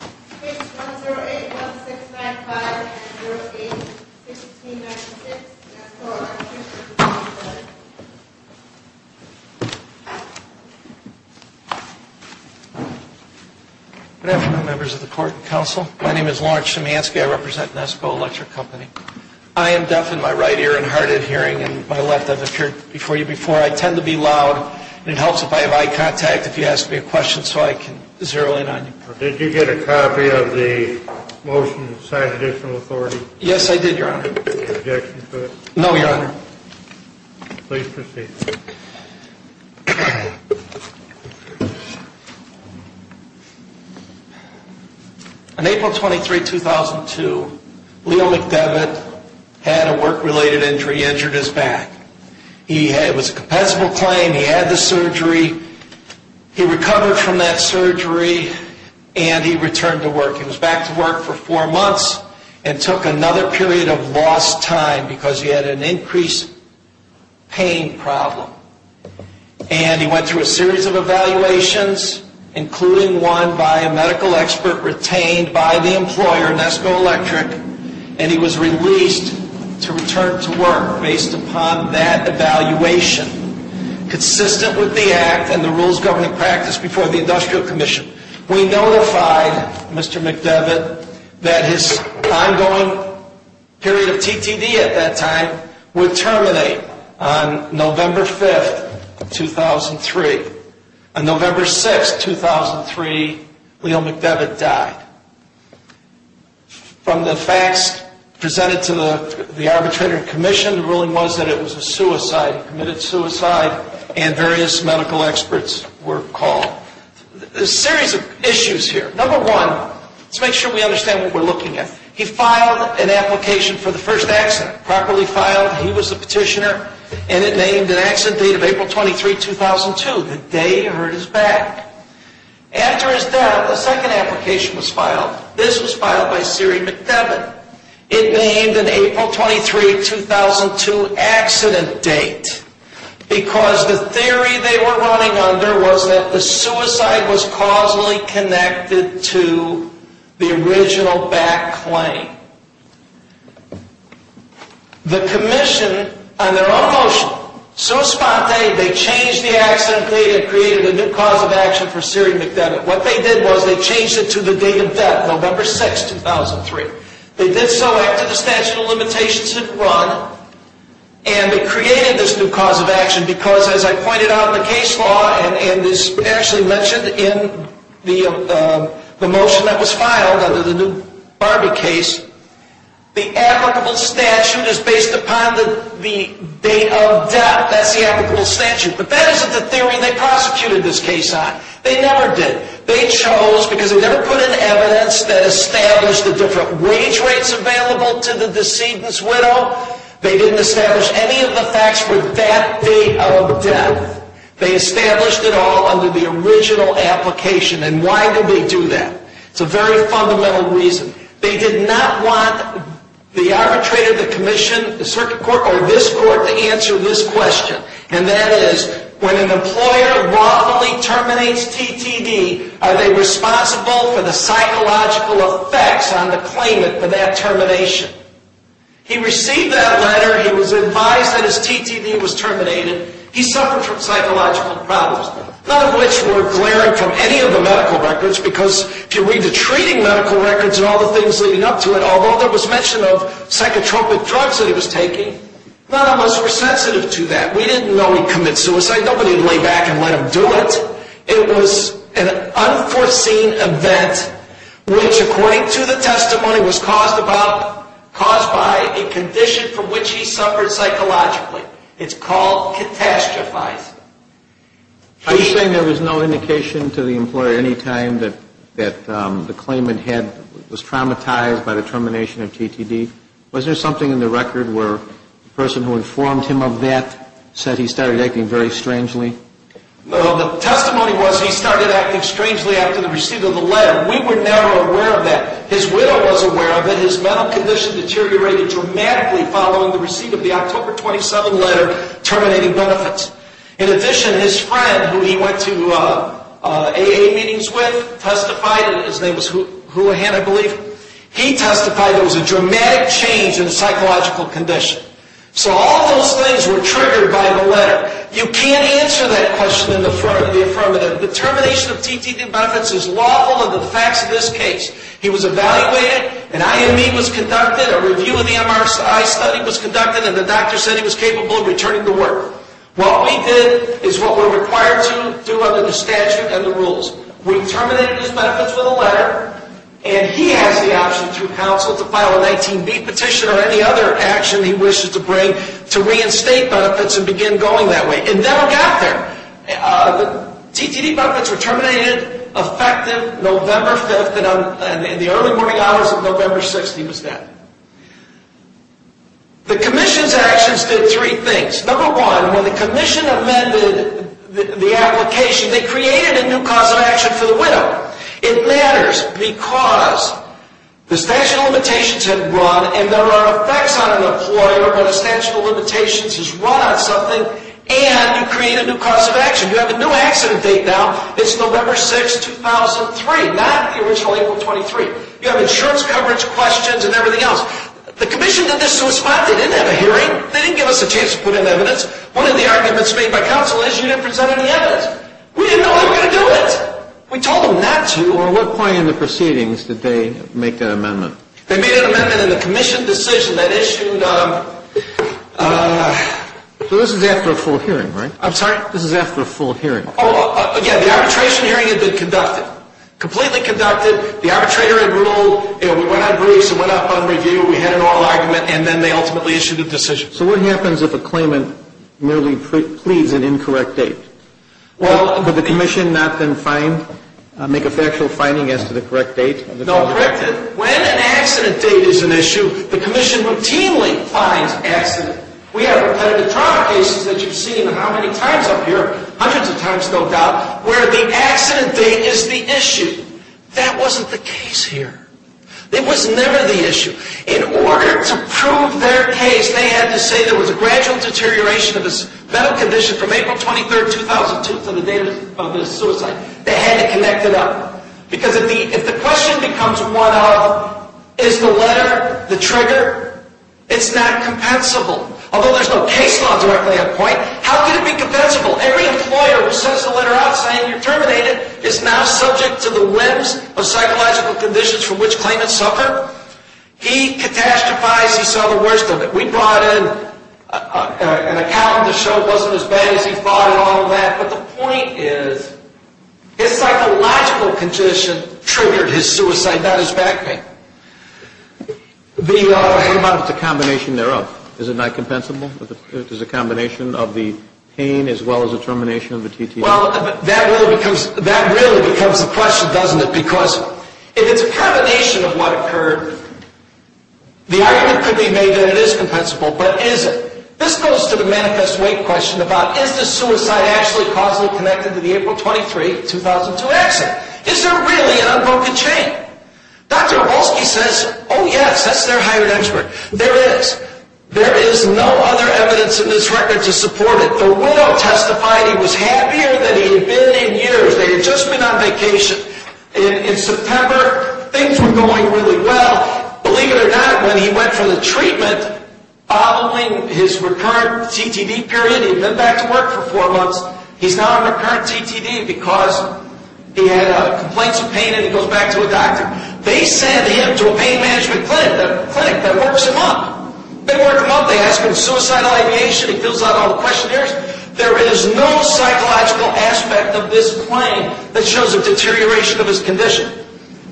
Good afternoon, members of the Court and Counsel. My name is Lawrence Schimansky. I represent Nesko Electric Company. I am deaf in my right ear and hard of hearing in my left. I've appeared before you before. I tend to be loud and it helps if I have eye contact if you ask me a question so I can zero in on you. Did you get a copy of the motion signed by the Additional Authority? Yes, I did, Your Honor. Any objection to it? No, Your Honor. Please proceed. On April 23, 2002, Leo McDevitt had a work-related injury. He injured his back. It was a compensable claim. He had the surgery. He recovered from that surgery and he returned to work. He was back to work for four months and took another period of lost time because he had an increased pain problem. And he went through a series of evaluations, including one by a medical expert retained by the employer, Nesko Electric, and he was released to return to work based upon that evaluation consistent with the Act and the rules governing practice before the Industrial Commission. We notified Mr. McDevitt that his ongoing period of TTD at that time would terminate on November 5, 2003. On November 6, 2003, Leo McDevitt died. From the facts presented to the arbitrator and commission, the ruling was that it was a suicide, committed suicide, and various medical experts were called. A series of issues here. Number one, let's make sure we understand what we're looking at. He filed an application for the first accident, properly filed. He was a petitioner and it named an accident date of April 23, 2002, the day he hurt his back. After his death, a second application was filed. This was filed by Siri McDevitt. It named an April 23, 2002 accident date because the theory they were running under was that the suicide was causally connected to the original back claim. The commission, on their own motion, so spontaneous, they changed the accident date and created a new cause of action for Siri McDevitt. What they did was they changed it to the date of death, November 6, 2003. They did so after the statute of limitations had run, and they created this new cause of action because, as I pointed out in the case law, and as Ashley mentioned in the motion that was filed under the new Barbie case, the applicable statute is based upon the date of death. That's the applicable statute. But that isn't the theory they prosecuted this case on. They never did. They chose, because they never put in evidence that established the different wage rates available to the decedent's widow. They didn't establish any of the facts for that date of death. They established it all under the original application, and why did they do that? It's a very fundamental reason. They did not want the arbitrator, the commission, the circuit court, or this court to answer this question, and that is, when an employer wrongfully terminates TTD, are they responsible for the psychological effects on the claimant for that termination? He received that letter. He was advised that his TTD was terminated. He suffered from psychological problems, none of which were glaring from any of the medical records, because if you read the treating medical records and all the things leading up to it, although there was mention of psychotropic drugs that he was taking, none of us were sensitive to that. We didn't know he committed suicide. Nobody would lay back and let him do it. It was an unforeseen event which, according to the testimony, was caused by a condition from which he suffered psychologically. It's called catastrophizing. Are you saying there was no indication to the employer any time that the claimant was traumatized by the termination of TTD? Was there something in the record where the person who informed him of that said he started acting very strangely? No. The testimony was he started acting strangely after the receipt of the letter. We were never aware of that. His widow was aware of it. His mental condition deteriorated dramatically following the receipt of the October 27 letter terminating benefits. In addition, his friend, who he went to AA meetings with, testified, and his name was Houlihan, I believe. He testified there was a dramatic change in his psychological condition. So all those things were triggered by the letter. You can't answer that question in the affirmative. The termination of TTD benefits is lawful under the facts of this case. He was evaluated, an IME was conducted, a review of the MRI study was conducted, and the doctor said he was capable of returning to work. What we did is what we're required to do under the statute and the rules. We asked the option through counsel to file a 19B petition or any other action he wishes to bring to reinstate benefits and begin going that way. It never got there. The TTD benefits were terminated, effective November 5th, and in the early morning hours of November 6th he was dead. The commission's actions did three things. Number one, when the commission amended the statute, the statute of limitations had run, and there are effects on an employer when the statute of limitations has run on something, and you create a new cause of action. You have a new accident date now. It's November 6th, 2003, not the original April 23. You have insurance coverage questions and everything else. The commission did this to a spot. They didn't have a hearing. They didn't give us a chance to put in evidence. One of the arguments made by counsel is you didn't present any evidence. We didn't know how we were going to do it. We told them not to. Well, at what point in the proceedings did they make that amendment? They made an amendment in the commission decision that issued... So this is after a full hearing, right? I'm sorry? This is after a full hearing. Oh, again, the arbitration hearing had been conducted, completely conducted. The arbitrator had ruled, you know, we went on briefs, we went up on review, we had an oral argument, and then they ultimately issued a decision. So what happens if a claimant merely pleads an incorrect date? Well, would the commission not then find, make a factual finding as to the correct date? No, correct it. When an accident date is an issue, the commission routinely finds accident. We have repetitive trauma cases that you've seen how many times up here, hundreds of times, no doubt, where the accident date is the issue. That wasn't the case here. It was never the issue. In order to prove their case, they had to say there was a gradual deterioration of his mental condition from April 23, 2002 to the date of his suicide. They had to connect it up. Because if the question becomes one of is the letter the trigger? It's not compensable. Although there's no case law directly at point, how could it be compensable? Every employer who sends a letter out saying you're terminated is now subject to the whims of psychological conditions for which claimants suffer. He catastrophized, he saw the worst of it. We brought in an accountant to show it wasn't as bad as he thought and all of that. But the point is his psychological condition triggered his suicide, not his back pain. What about the combination thereof? Is it not compensable? Is a combination of the pain as well as the termination of the TTA? Well, that really becomes the question, doesn't it? Because if it's a combination of what occurred, the argument could be made that it is compensable, but is it? This goes to the Manifest Weight question about is the suicide actually causally connected to the April 23, 2002 accident? Is there really an unbroken chain? Dr. Aholsky says, oh yes, that's their hired expert. There is. There is no other evidence in this record to support it. The widow testified he was happier than he had been in years. They had just been on vacation. In September, things were going really well. Believe it or not, when he went for the treatment, following his recurrent CTD period, he had been back to work for four months. He's now on recurrent CTD because he had complaints of pain and he goes back to a doctor. They send him to a pain management clinic that works him up. They work him up, they ask him suicidal ideation, he fills out all the questionnaires. There is no psychological aspect of this claim that shows a deterioration of his condition.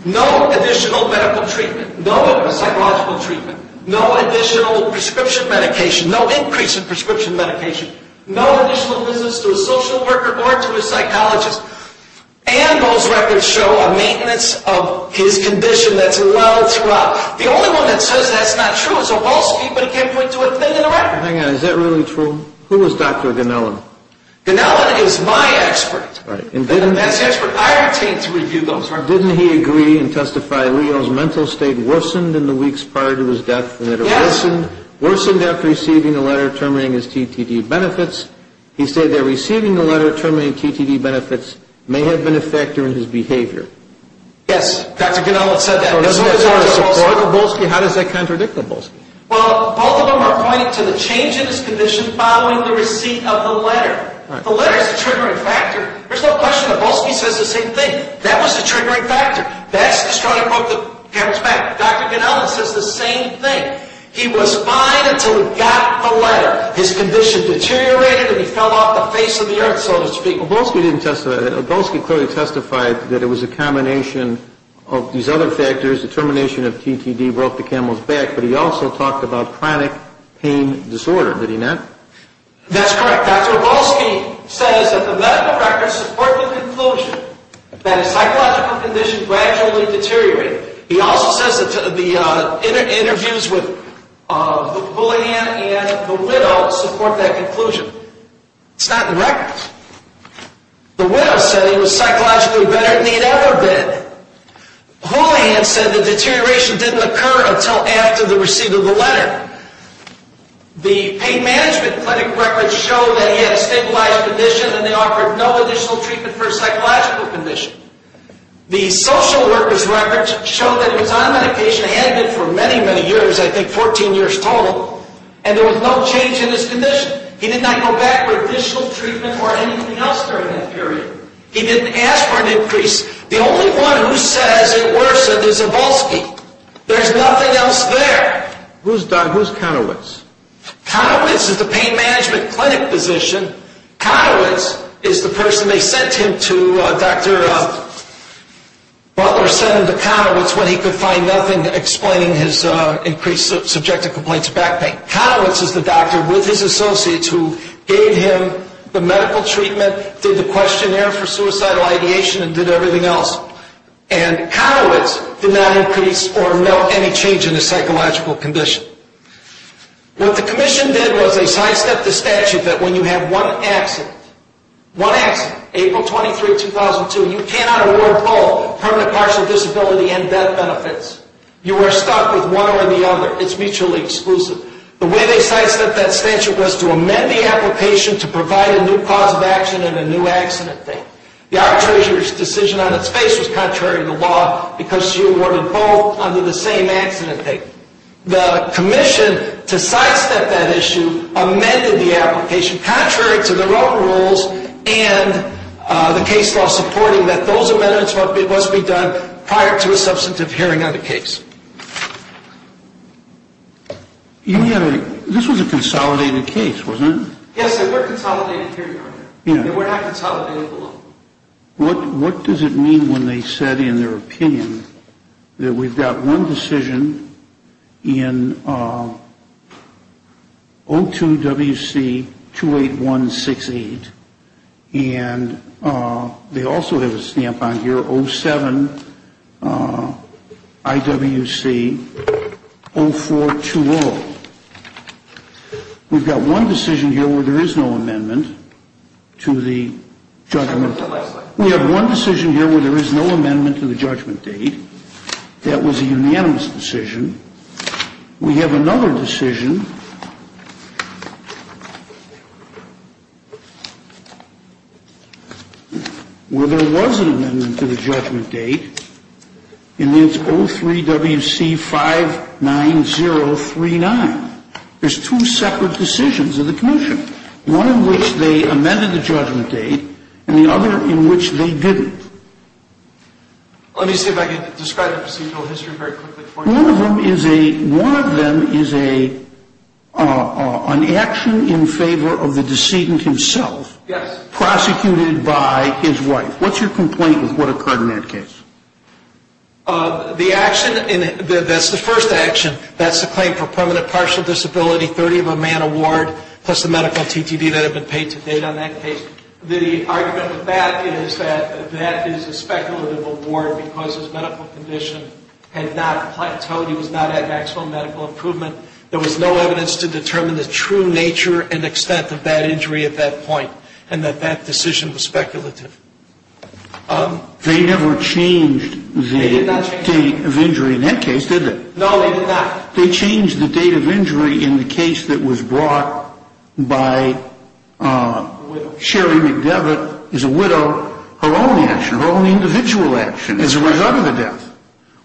No additional medical treatment. No psychological treatment. No additional prescription medication. No increase in prescription medication. No additional visits to a social worker or to a psychologist. And those records show a maintenance of his condition that's allowed throughout. The only one that says that's not true is Aholsky, but he can't point to a thing in the record. Hang on, is that really true? Who is Dr. Ganellan? Ganellan is my expert. That's the expert I retain to review those records. Didn't he agree and testify Leo's mental state worsened in the weeks prior to his death? Yes. Worsened after receiving a letter terminating his TTD benefits. He said that receiving a letter terminating TTD benefits may have been a factor in his behavior. Yes, Dr. Ganellan said that. Doesn't that support Aholsky? How does that contradict Aholsky? Well, both of them are pointing to the change in his condition following the receipt of the letter. The letter is the triggering factor. There's no question Aholsky says the same thing. That was the triggering factor. That's the reason he broke the camel's back. Dr. Ganellan says the same thing. He was fine until he got the letter. His condition deteriorated and he fell off the face of the earth, so to speak. Aholsky clearly testified that it was a combination of these other factors. The termination of TTD broke the camel's back, but he also talked about chronic pain disorder. Did he not? That's correct. Dr. Aholsky says that the medical records support the conclusion that his psychological condition gradually deteriorated. He also says that the interviews with Julianne and the widow support that conclusion. It's not in the records. The widow said he was psychologically better than he had ever been. Holyhand said the deterioration didn't occur until after the receipt of the letter. The pain management clinic records show that he had a stabilized condition and they offered no additional treatment for a psychological condition. The social workers records show that he was on medication and had been for many, many years, I think 14 years total, and there was no change in his condition. He did not go back for additional treatment or anything else during that period. He didn't ask for an increase. The only one who says it worsened is Aholsky. There's nothing else there. Who's Conowitz? Conowitz is the pain management clinic physician. Conowitz is the person they sent him to, Dr. Butler sent him to Conowitz when he could find nothing explaining his increased subjective complaints of back pain. Conowitz is the doctor with his associates who gave him the medical treatment, did the questionnaire for suicidal ideation, and did everything else. And Conowitz did not increase or melt any change in his psychological condition. What the commission did was they sidestepped the statute that when you have one accident, one accident, April 23, 2002, you cannot award all permanent partial disability and death benefits. You are stuck with one or the other. It's mutually exclusive. The way they sidestepped that statute was to amend the application to provide a new cause of action and a new accident date. The arbitrator's decision on its face was contrary to the law because she awarded both under the same accident date. The commission, to sidestep that issue, amended the application contrary to their own rules and the case law supporting that those amendments must be done prior to a substantive hearing on the case. This was a consolidated case, wasn't it? Yes, and we're consolidated here, Your Honor. We're not consolidated below. What does it mean when they said in their opinion that we've got one decision in 02WC28168 and they also have a stamp on here, 07IWC0420. We've got one decision here where there is no amendment to the judgment. We have one decision here where there is no amendment to the judgment date. That was a unanimous decision. We have another decision where there was an amendment to the judgment date and it's 03WC59039. There's two separate decisions of the commission, one in which they amended the judgment date and the other in which they didn't. Let me see if I can describe the procedural history very quickly. One of them is an action in favor of the decedent himself. Yes. Prosecuted by his wife. What's your complaint with what occurred in that case? The action, that's the first action, that's the claim for permanent partial disability, 30 of a man award, plus the medical TTD that had been paid to date on that case. The argument with that is that that is a speculative award because his medical condition had not plateaued, he was not at maximum medical improvement. There was no evidence to determine the true nature and extent of that They never changed the date of injury in that case, did they? No, they did not. They changed the date of injury in the case that was brought by Sherry McDevitt as a widow, her own action, her own individual action, as a result of the death.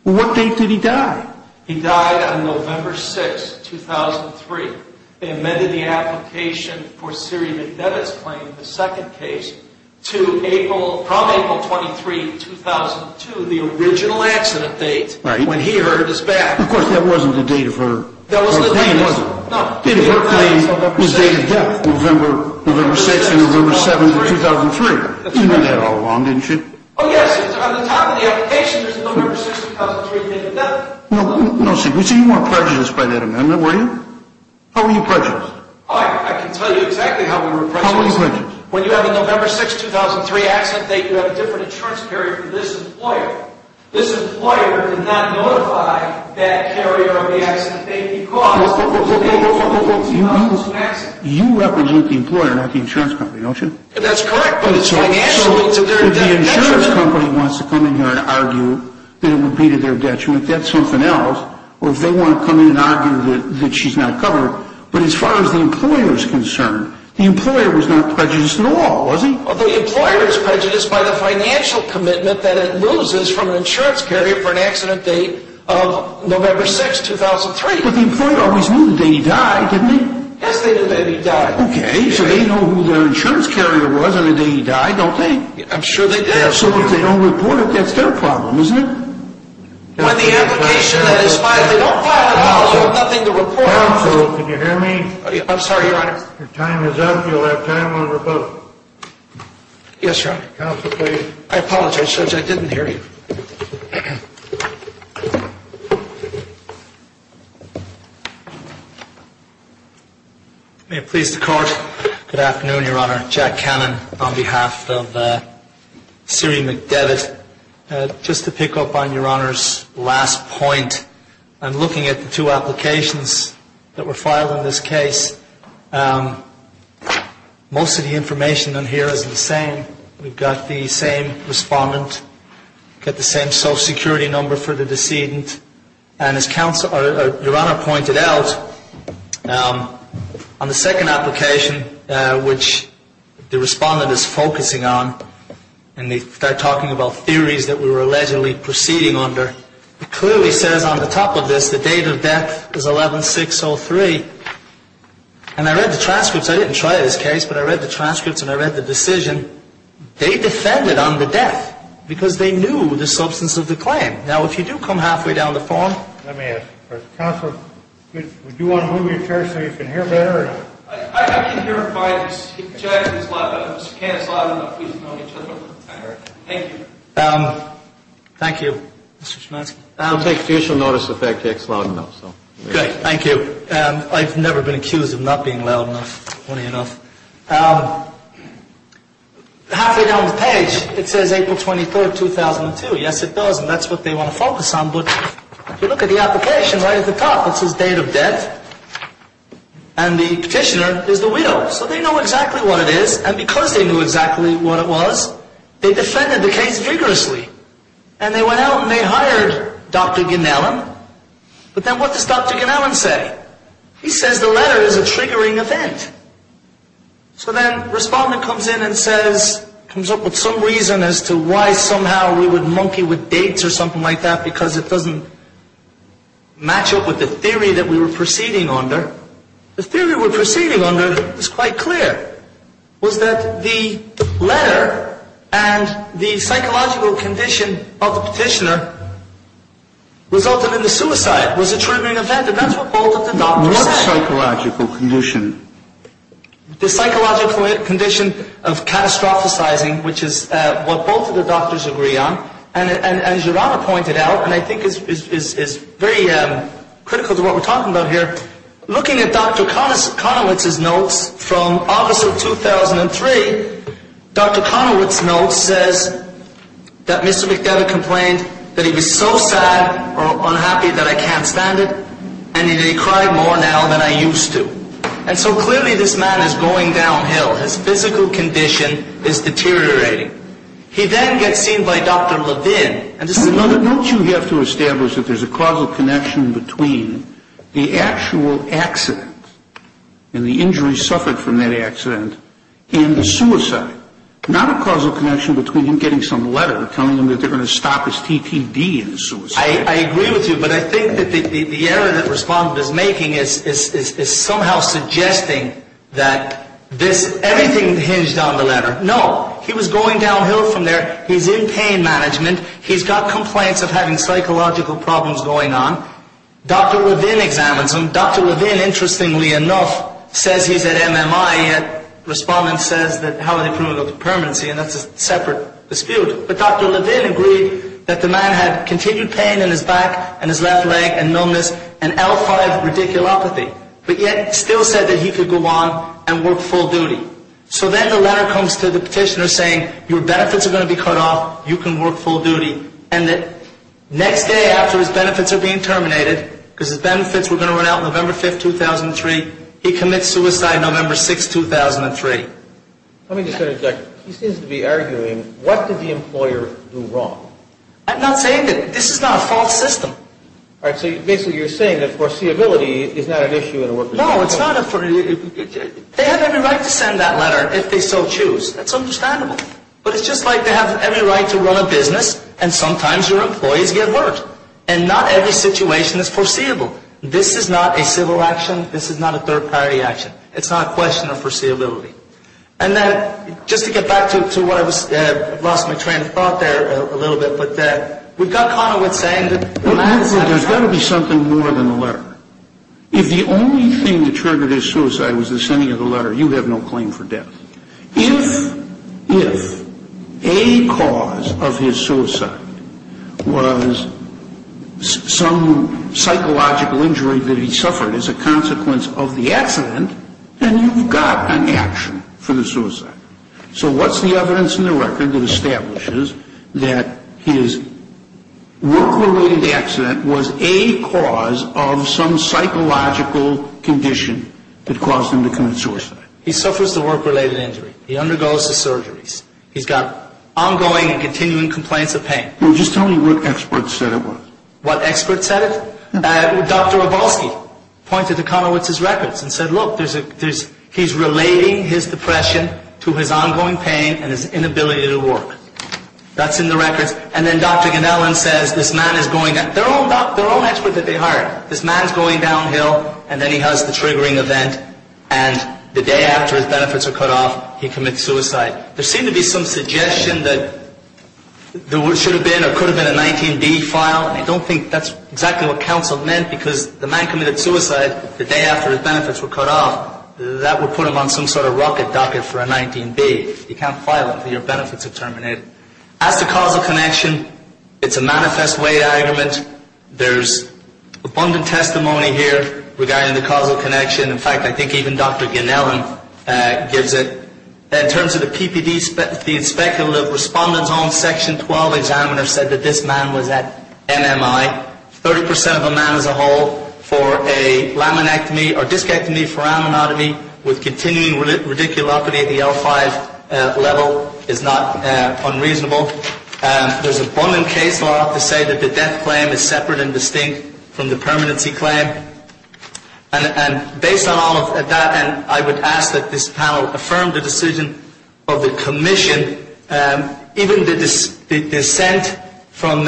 What date did he die? He died on November 6, 2003. They amended the application for Sherry McDevitt's claim in the second case to April, from April 23, 2002, the original accident date when he heard his back. Of course, that wasn't the date of her claim, was it? No. The date of her claim was date of death, November 6 and November 7, 2003. You knew that all along, didn't you? Oh, yes, on the top of the application, there's November 6, 2003, date of death. No secrecy, you weren't prejudiced by that amendment, were you? How were you prejudiced? I can tell you exactly how we were prejudiced. How were you prejudiced? When you have a November 6, 2003 accident date, you have a different insurance carrier for this employer. This employer did not notify that carrier of the accident date because the date was not the same accident. You represent the employer, not the insurance company, don't you? That's correct, but it's financial. So if the insurance company wants to come in here and argue that it would be to their detriment, that's something else. Or if they want to come in and argue that she's not covered. But as far as the employer is concerned, the employer was not prejudiced at all, was he? The employer is prejudiced by the financial commitment that it loses from an insurance carrier for an accident date of November 6, 2003. But the employer always knew the day he died, didn't he? Yes, they knew the day he died. Okay, so they know who their insurance carrier was on the day he died, don't they? I'm sure they did. So if they don't report it, that's their problem, isn't it? Counsel, can you hear me? I'm sorry, Your Honor. Your time is up. You'll have time over both. Yes, Your Honor. Counsel, please. I apologize, Judge. I didn't hear you. May it please the Court. Good afternoon, Your Honor. Jack Cannon on behalf of Siri McDevitt. Just to pick up on Your Honor's last point, I'm looking at the two applications that were filed in this case. Most of the information on here is the same. We've got the same respondent, got the same social security number for the decedent. And as Your Honor pointed out, on the second application, which the respondent is focusing on, and they start talking about theories that we were allegedly proceeding under, it clearly says on the top of this, the date of death is 11-6-03. And I read the transcripts. I didn't try this case, but I read the transcripts, and I read the decision. They defended on the death because they knew the substance of the claim. Now, if you do come halfway down the form. Let me ask you first. Counsel, would you want to move your chair so you can hear better? I can hear him fine. Jack is loud enough. Mr. Kahn is loud enough. We don't know each other. Thank you. Thank you, Mr. Shmansky. We'll take official notice if Jack is loud enough. Okay. Thank you. I've never been accused of not being loud enough, funny enough. Halfway down the page, it says April 23, 2002. Yes, it does, and that's what they want to focus on. But if you look at the application right at the top, it says date of death. And the petitioner is the widow. So they know exactly what it is, and because they knew exactly what it was, they defended the case vigorously. And they went out and they hired Dr. Gnallan. But then what does Dr. Gnallan say? He says the letter is a triggering event. So then Respondent comes in and says, comes up with some reason as to why somehow we would monkey with dates or something like that because it doesn't match up with the theory that we were proceeding under. The theory we're proceeding under is quite clear, was that the letter and the psychological condition of the petitioner resulted in the suicide was a triggering event, and that's what both of the doctors said. What psychological condition? The psychological condition of catastrophicizing, which is what both of the doctors agree on. And as Gerardo pointed out, and I think it's very critical to what we're talking about here, looking at Dr. Conowitz's notes from August of 2003, Dr. Conowitz's notes says that Mr. McDevitt complained that he was so sad or unhappy that I can't stand it, and that he cried more now than I used to. And so clearly this man is going downhill. His physical condition is deteriorating. He then gets seen by Dr. Levin. Don't you have to establish that there's a causal connection between the actual accident and the injury suffered from that accident and the suicide, not a causal connection between him getting some letter telling him that they're going to stop his TTD and suicide. I agree with you, but I think that the error that Respondent is making is somehow suggesting that everything hinged on the letter. No, he was going downhill from there. He's in pain management. He's got complaints of having psychological problems going on. Dr. Levin examines him. Dr. Levin, interestingly enough, says he's at MMI, yet Respondent says that how are they proven up to permanency, and that's a separate dispute. But Dr. Levin agreed that the man had continued pain in his back and his left leg and numbness and L5 radiculopathy, but yet still said that he could go on and work full duty. So then the letter comes to the petitioner saying your benefits are going to be cut off, you can work full duty, and that next day after his benefits are being terminated, because his benefits were going to run out November 5, 2003, he commits suicide November 6, 2003. Let me just interject. He seems to be arguing, what did the employer do wrong? I'm not saying that. This is not a false system. All right, so basically you're saying that foreseeability is not an issue in a worker's employment. No, it's not. They have every right to send that letter if they so choose. That's understandable. But it's just like they have every right to run a business, and sometimes your employees get worked. And not every situation is foreseeable. This is not a civil action. This is not a third-party action. It's not a question of foreseeability. And then just to get back to what I lost my train of thought there a little bit, but we've got Conowith saying that the man is at MMI. There's got to be something more than the letter. If the only thing that triggered his suicide was the sending of the letter, you have no claim for death. If a cause of his suicide was some psychological injury that he suffered as a consequence of the accident, then you've got an action for the suicide. So what's the evidence in the record that establishes that his work-related accident was a cause of some psychological condition that caused him to commit suicide? He suffers the work-related injury. He undergoes the surgeries. He's got ongoing and continuing complaints of pain. Well, just tell me what experts said it was. What experts said it? Dr. Abolsky pointed to Conowith's records and said, look, he's relating his depression to his ongoing pain and his inability to work. That's in the records. And then Dr. Ganellan says, this man is going, their own expert that they hired, this man's going downhill, and then he has the triggering event, and the day after his benefits are cut off, he commits suicide. There seemed to be some suggestion that there should have been or could have been a 19B file, and I don't think that's exactly what counsel meant, because the man committed suicide the day after his benefits were cut off. That would put him on some sort of rocket docket for a 19B. You can't file it until your benefits are terminated. As to causal connection, it's a manifest way to argument. There's abundant testimony here regarding the causal connection. In fact, I think even Dr. Ganellan gives it. In terms of the PPD, the inspector, the respondent's own section 12 examiner said that this man was at MMI. 30% of a man as a whole for a laminectomy or discectomy for amyotomy with continuing radiculopathy at the L5 level is not unreasonable. There's abundant case law to say that the death claim is separate and distinct from the permanency claim. And based on all of that, I would ask that this panel affirm the decision of the commission. Even the dissent from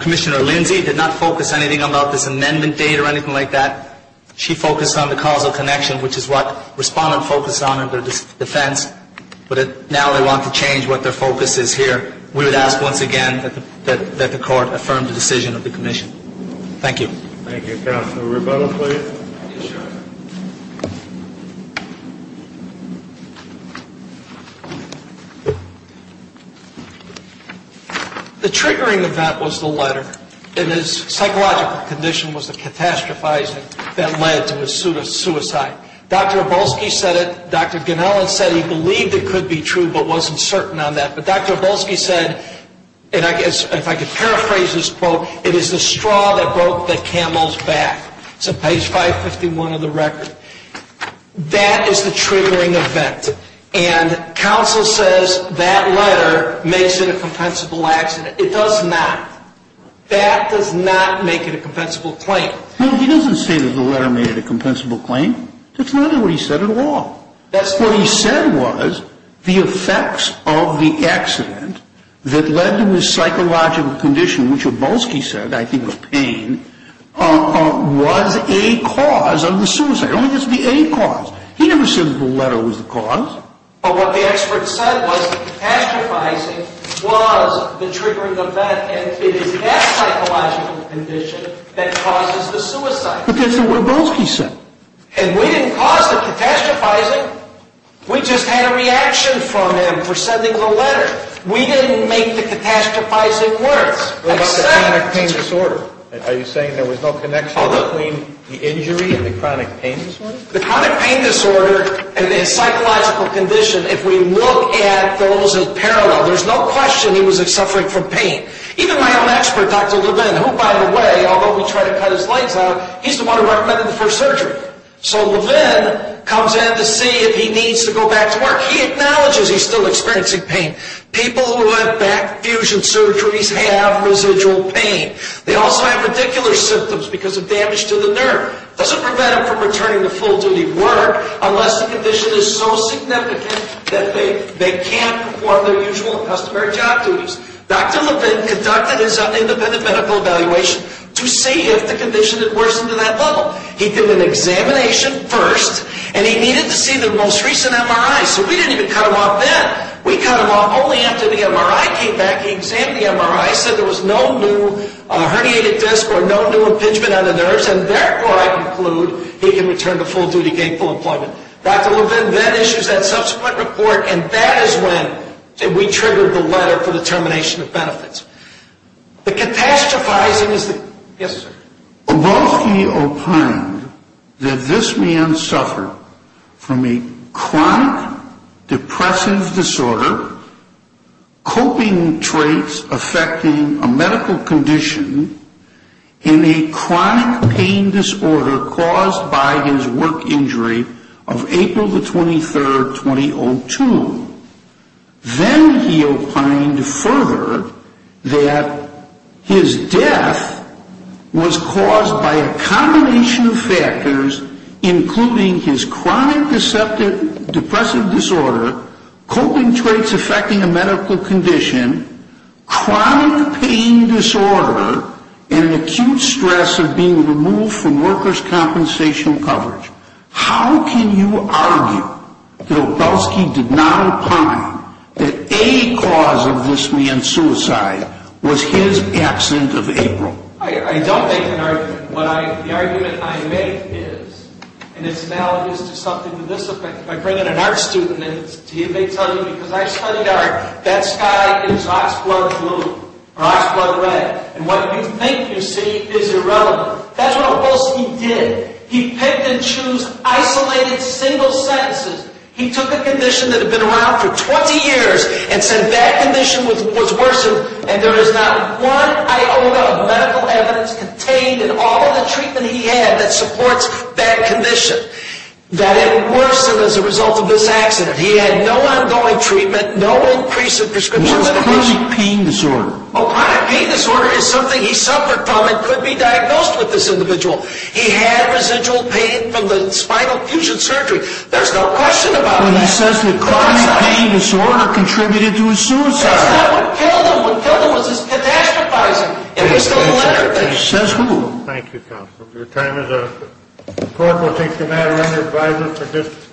Commissioner Lindsay did not focus anything on this amendment date or anything like that. She focused on the causal connection, which is what respondent focused on in their defense. But now they want to change what their focus is here. We would ask once again that the court affirm the decision of the commission. Thank you. Thank you, Counsel. Rebuttal, please. Yes, Your Honor. The triggering of that was the letter. And his psychological condition was the catastrophizing that led to his suicide. Dr. Abolsky said it. Dr. Ganellan said he believed it could be true but wasn't certain on that. But Dr. Abolsky said, and if I could paraphrase this quote, it is the straw that broke the camel's back. It's on page 551 of the record. That is the triggering event. And counsel says that letter makes it a compensable accident. It does not. That does not make it a compensable claim. No, he doesn't say that the letter made it a compensable claim. That's not what he said at all. What he said was the effects of the accident that led to his psychological condition, which Abolsky said, I think of pain, was a cause of the suicide. It doesn't have to be any cause. He never said that the letter was the cause. But what the expert said was the catastrophizing was the triggering event, and it is that psychological condition that causes the suicide. But that's not what Abolsky said. And we didn't cause the catastrophizing. We just had a reaction from him for sending the letter. We didn't make the catastrophizing work. What about the chronic pain disorder? Are you saying there was no connection between the injury and the chronic pain disorder? The chronic pain disorder and his psychological condition, if we look at those in parallel, there's no question he was suffering from pain. Even my own expert, Dr. Levin, who, by the way, although he tried to cut his legs out, he's the one who recommended the first surgery. So Levin comes in to see if he needs to go back to work. He acknowledges he's still experiencing pain. People who have back fusion surgeries have residual pain. They also have radicular symptoms because of damage to the nerve. It doesn't prevent them from returning to full-duty work unless the condition is so significant that they can't perform their usual customary job duties. Dr. Levin conducted his own independent medical evaluation to see if the condition had worsened to that level. He did an examination first, and he needed to see the most recent MRI. So we didn't even cut him off then. We cut him off only after the MRI came back. He examined the MRI, said there was no new herniated disc or no new impingement on the nerves, and therefore, I conclude, he can return to full-duty gainful employment. Dr. Levin then issues that subsequent report, and that is when we triggered the letter for the termination of benefits. The catastrophizing is that- Yes, sir. Obolsky opined that this man suffered from a chronic depressive disorder, coping traits affecting a medical condition, and a chronic pain disorder caused by his work injury of April the 23rd, 2002. Then he opined further that his death was caused by a combination of factors, including his chronic depressive disorder, coping traits affecting a medical condition, chronic pain disorder, and acute stress of being removed from workers' compensation coverage. How can you argue that Obolsky did not opine that a cause of this man's suicide was his accident of April? I don't make an argument. The argument I make is, and it's analogous to something to this effect, if I bring in an art student and they tell you, because I studied art, that sky is oxblood blue or oxblood red, and what you think you see is irrelevant. That's what Obolsky did. He picked and chose isolated single sentences. He took a condition that had been around for 20 years and said that condition was worsened, and there is not one iota of medical evidence contained in all of the treatment he had that supports that condition, that it worsened as a result of this accident. He had no ongoing treatment, no increase in prescriptions. It was a chronic pain disorder. A chronic pain disorder is something he suffered from and could be diagnosed with this individual. He had residual pain from the spinal fusion surgery. There's no question about that. Well, he says the chronic pain disorder contributed to his suicide. That's not what killed him. What killed him was his pedastrophizing. It was the electric fish. Says who? Thank you, counsel. Your time is up. The court will take the matter under advisory for discussion.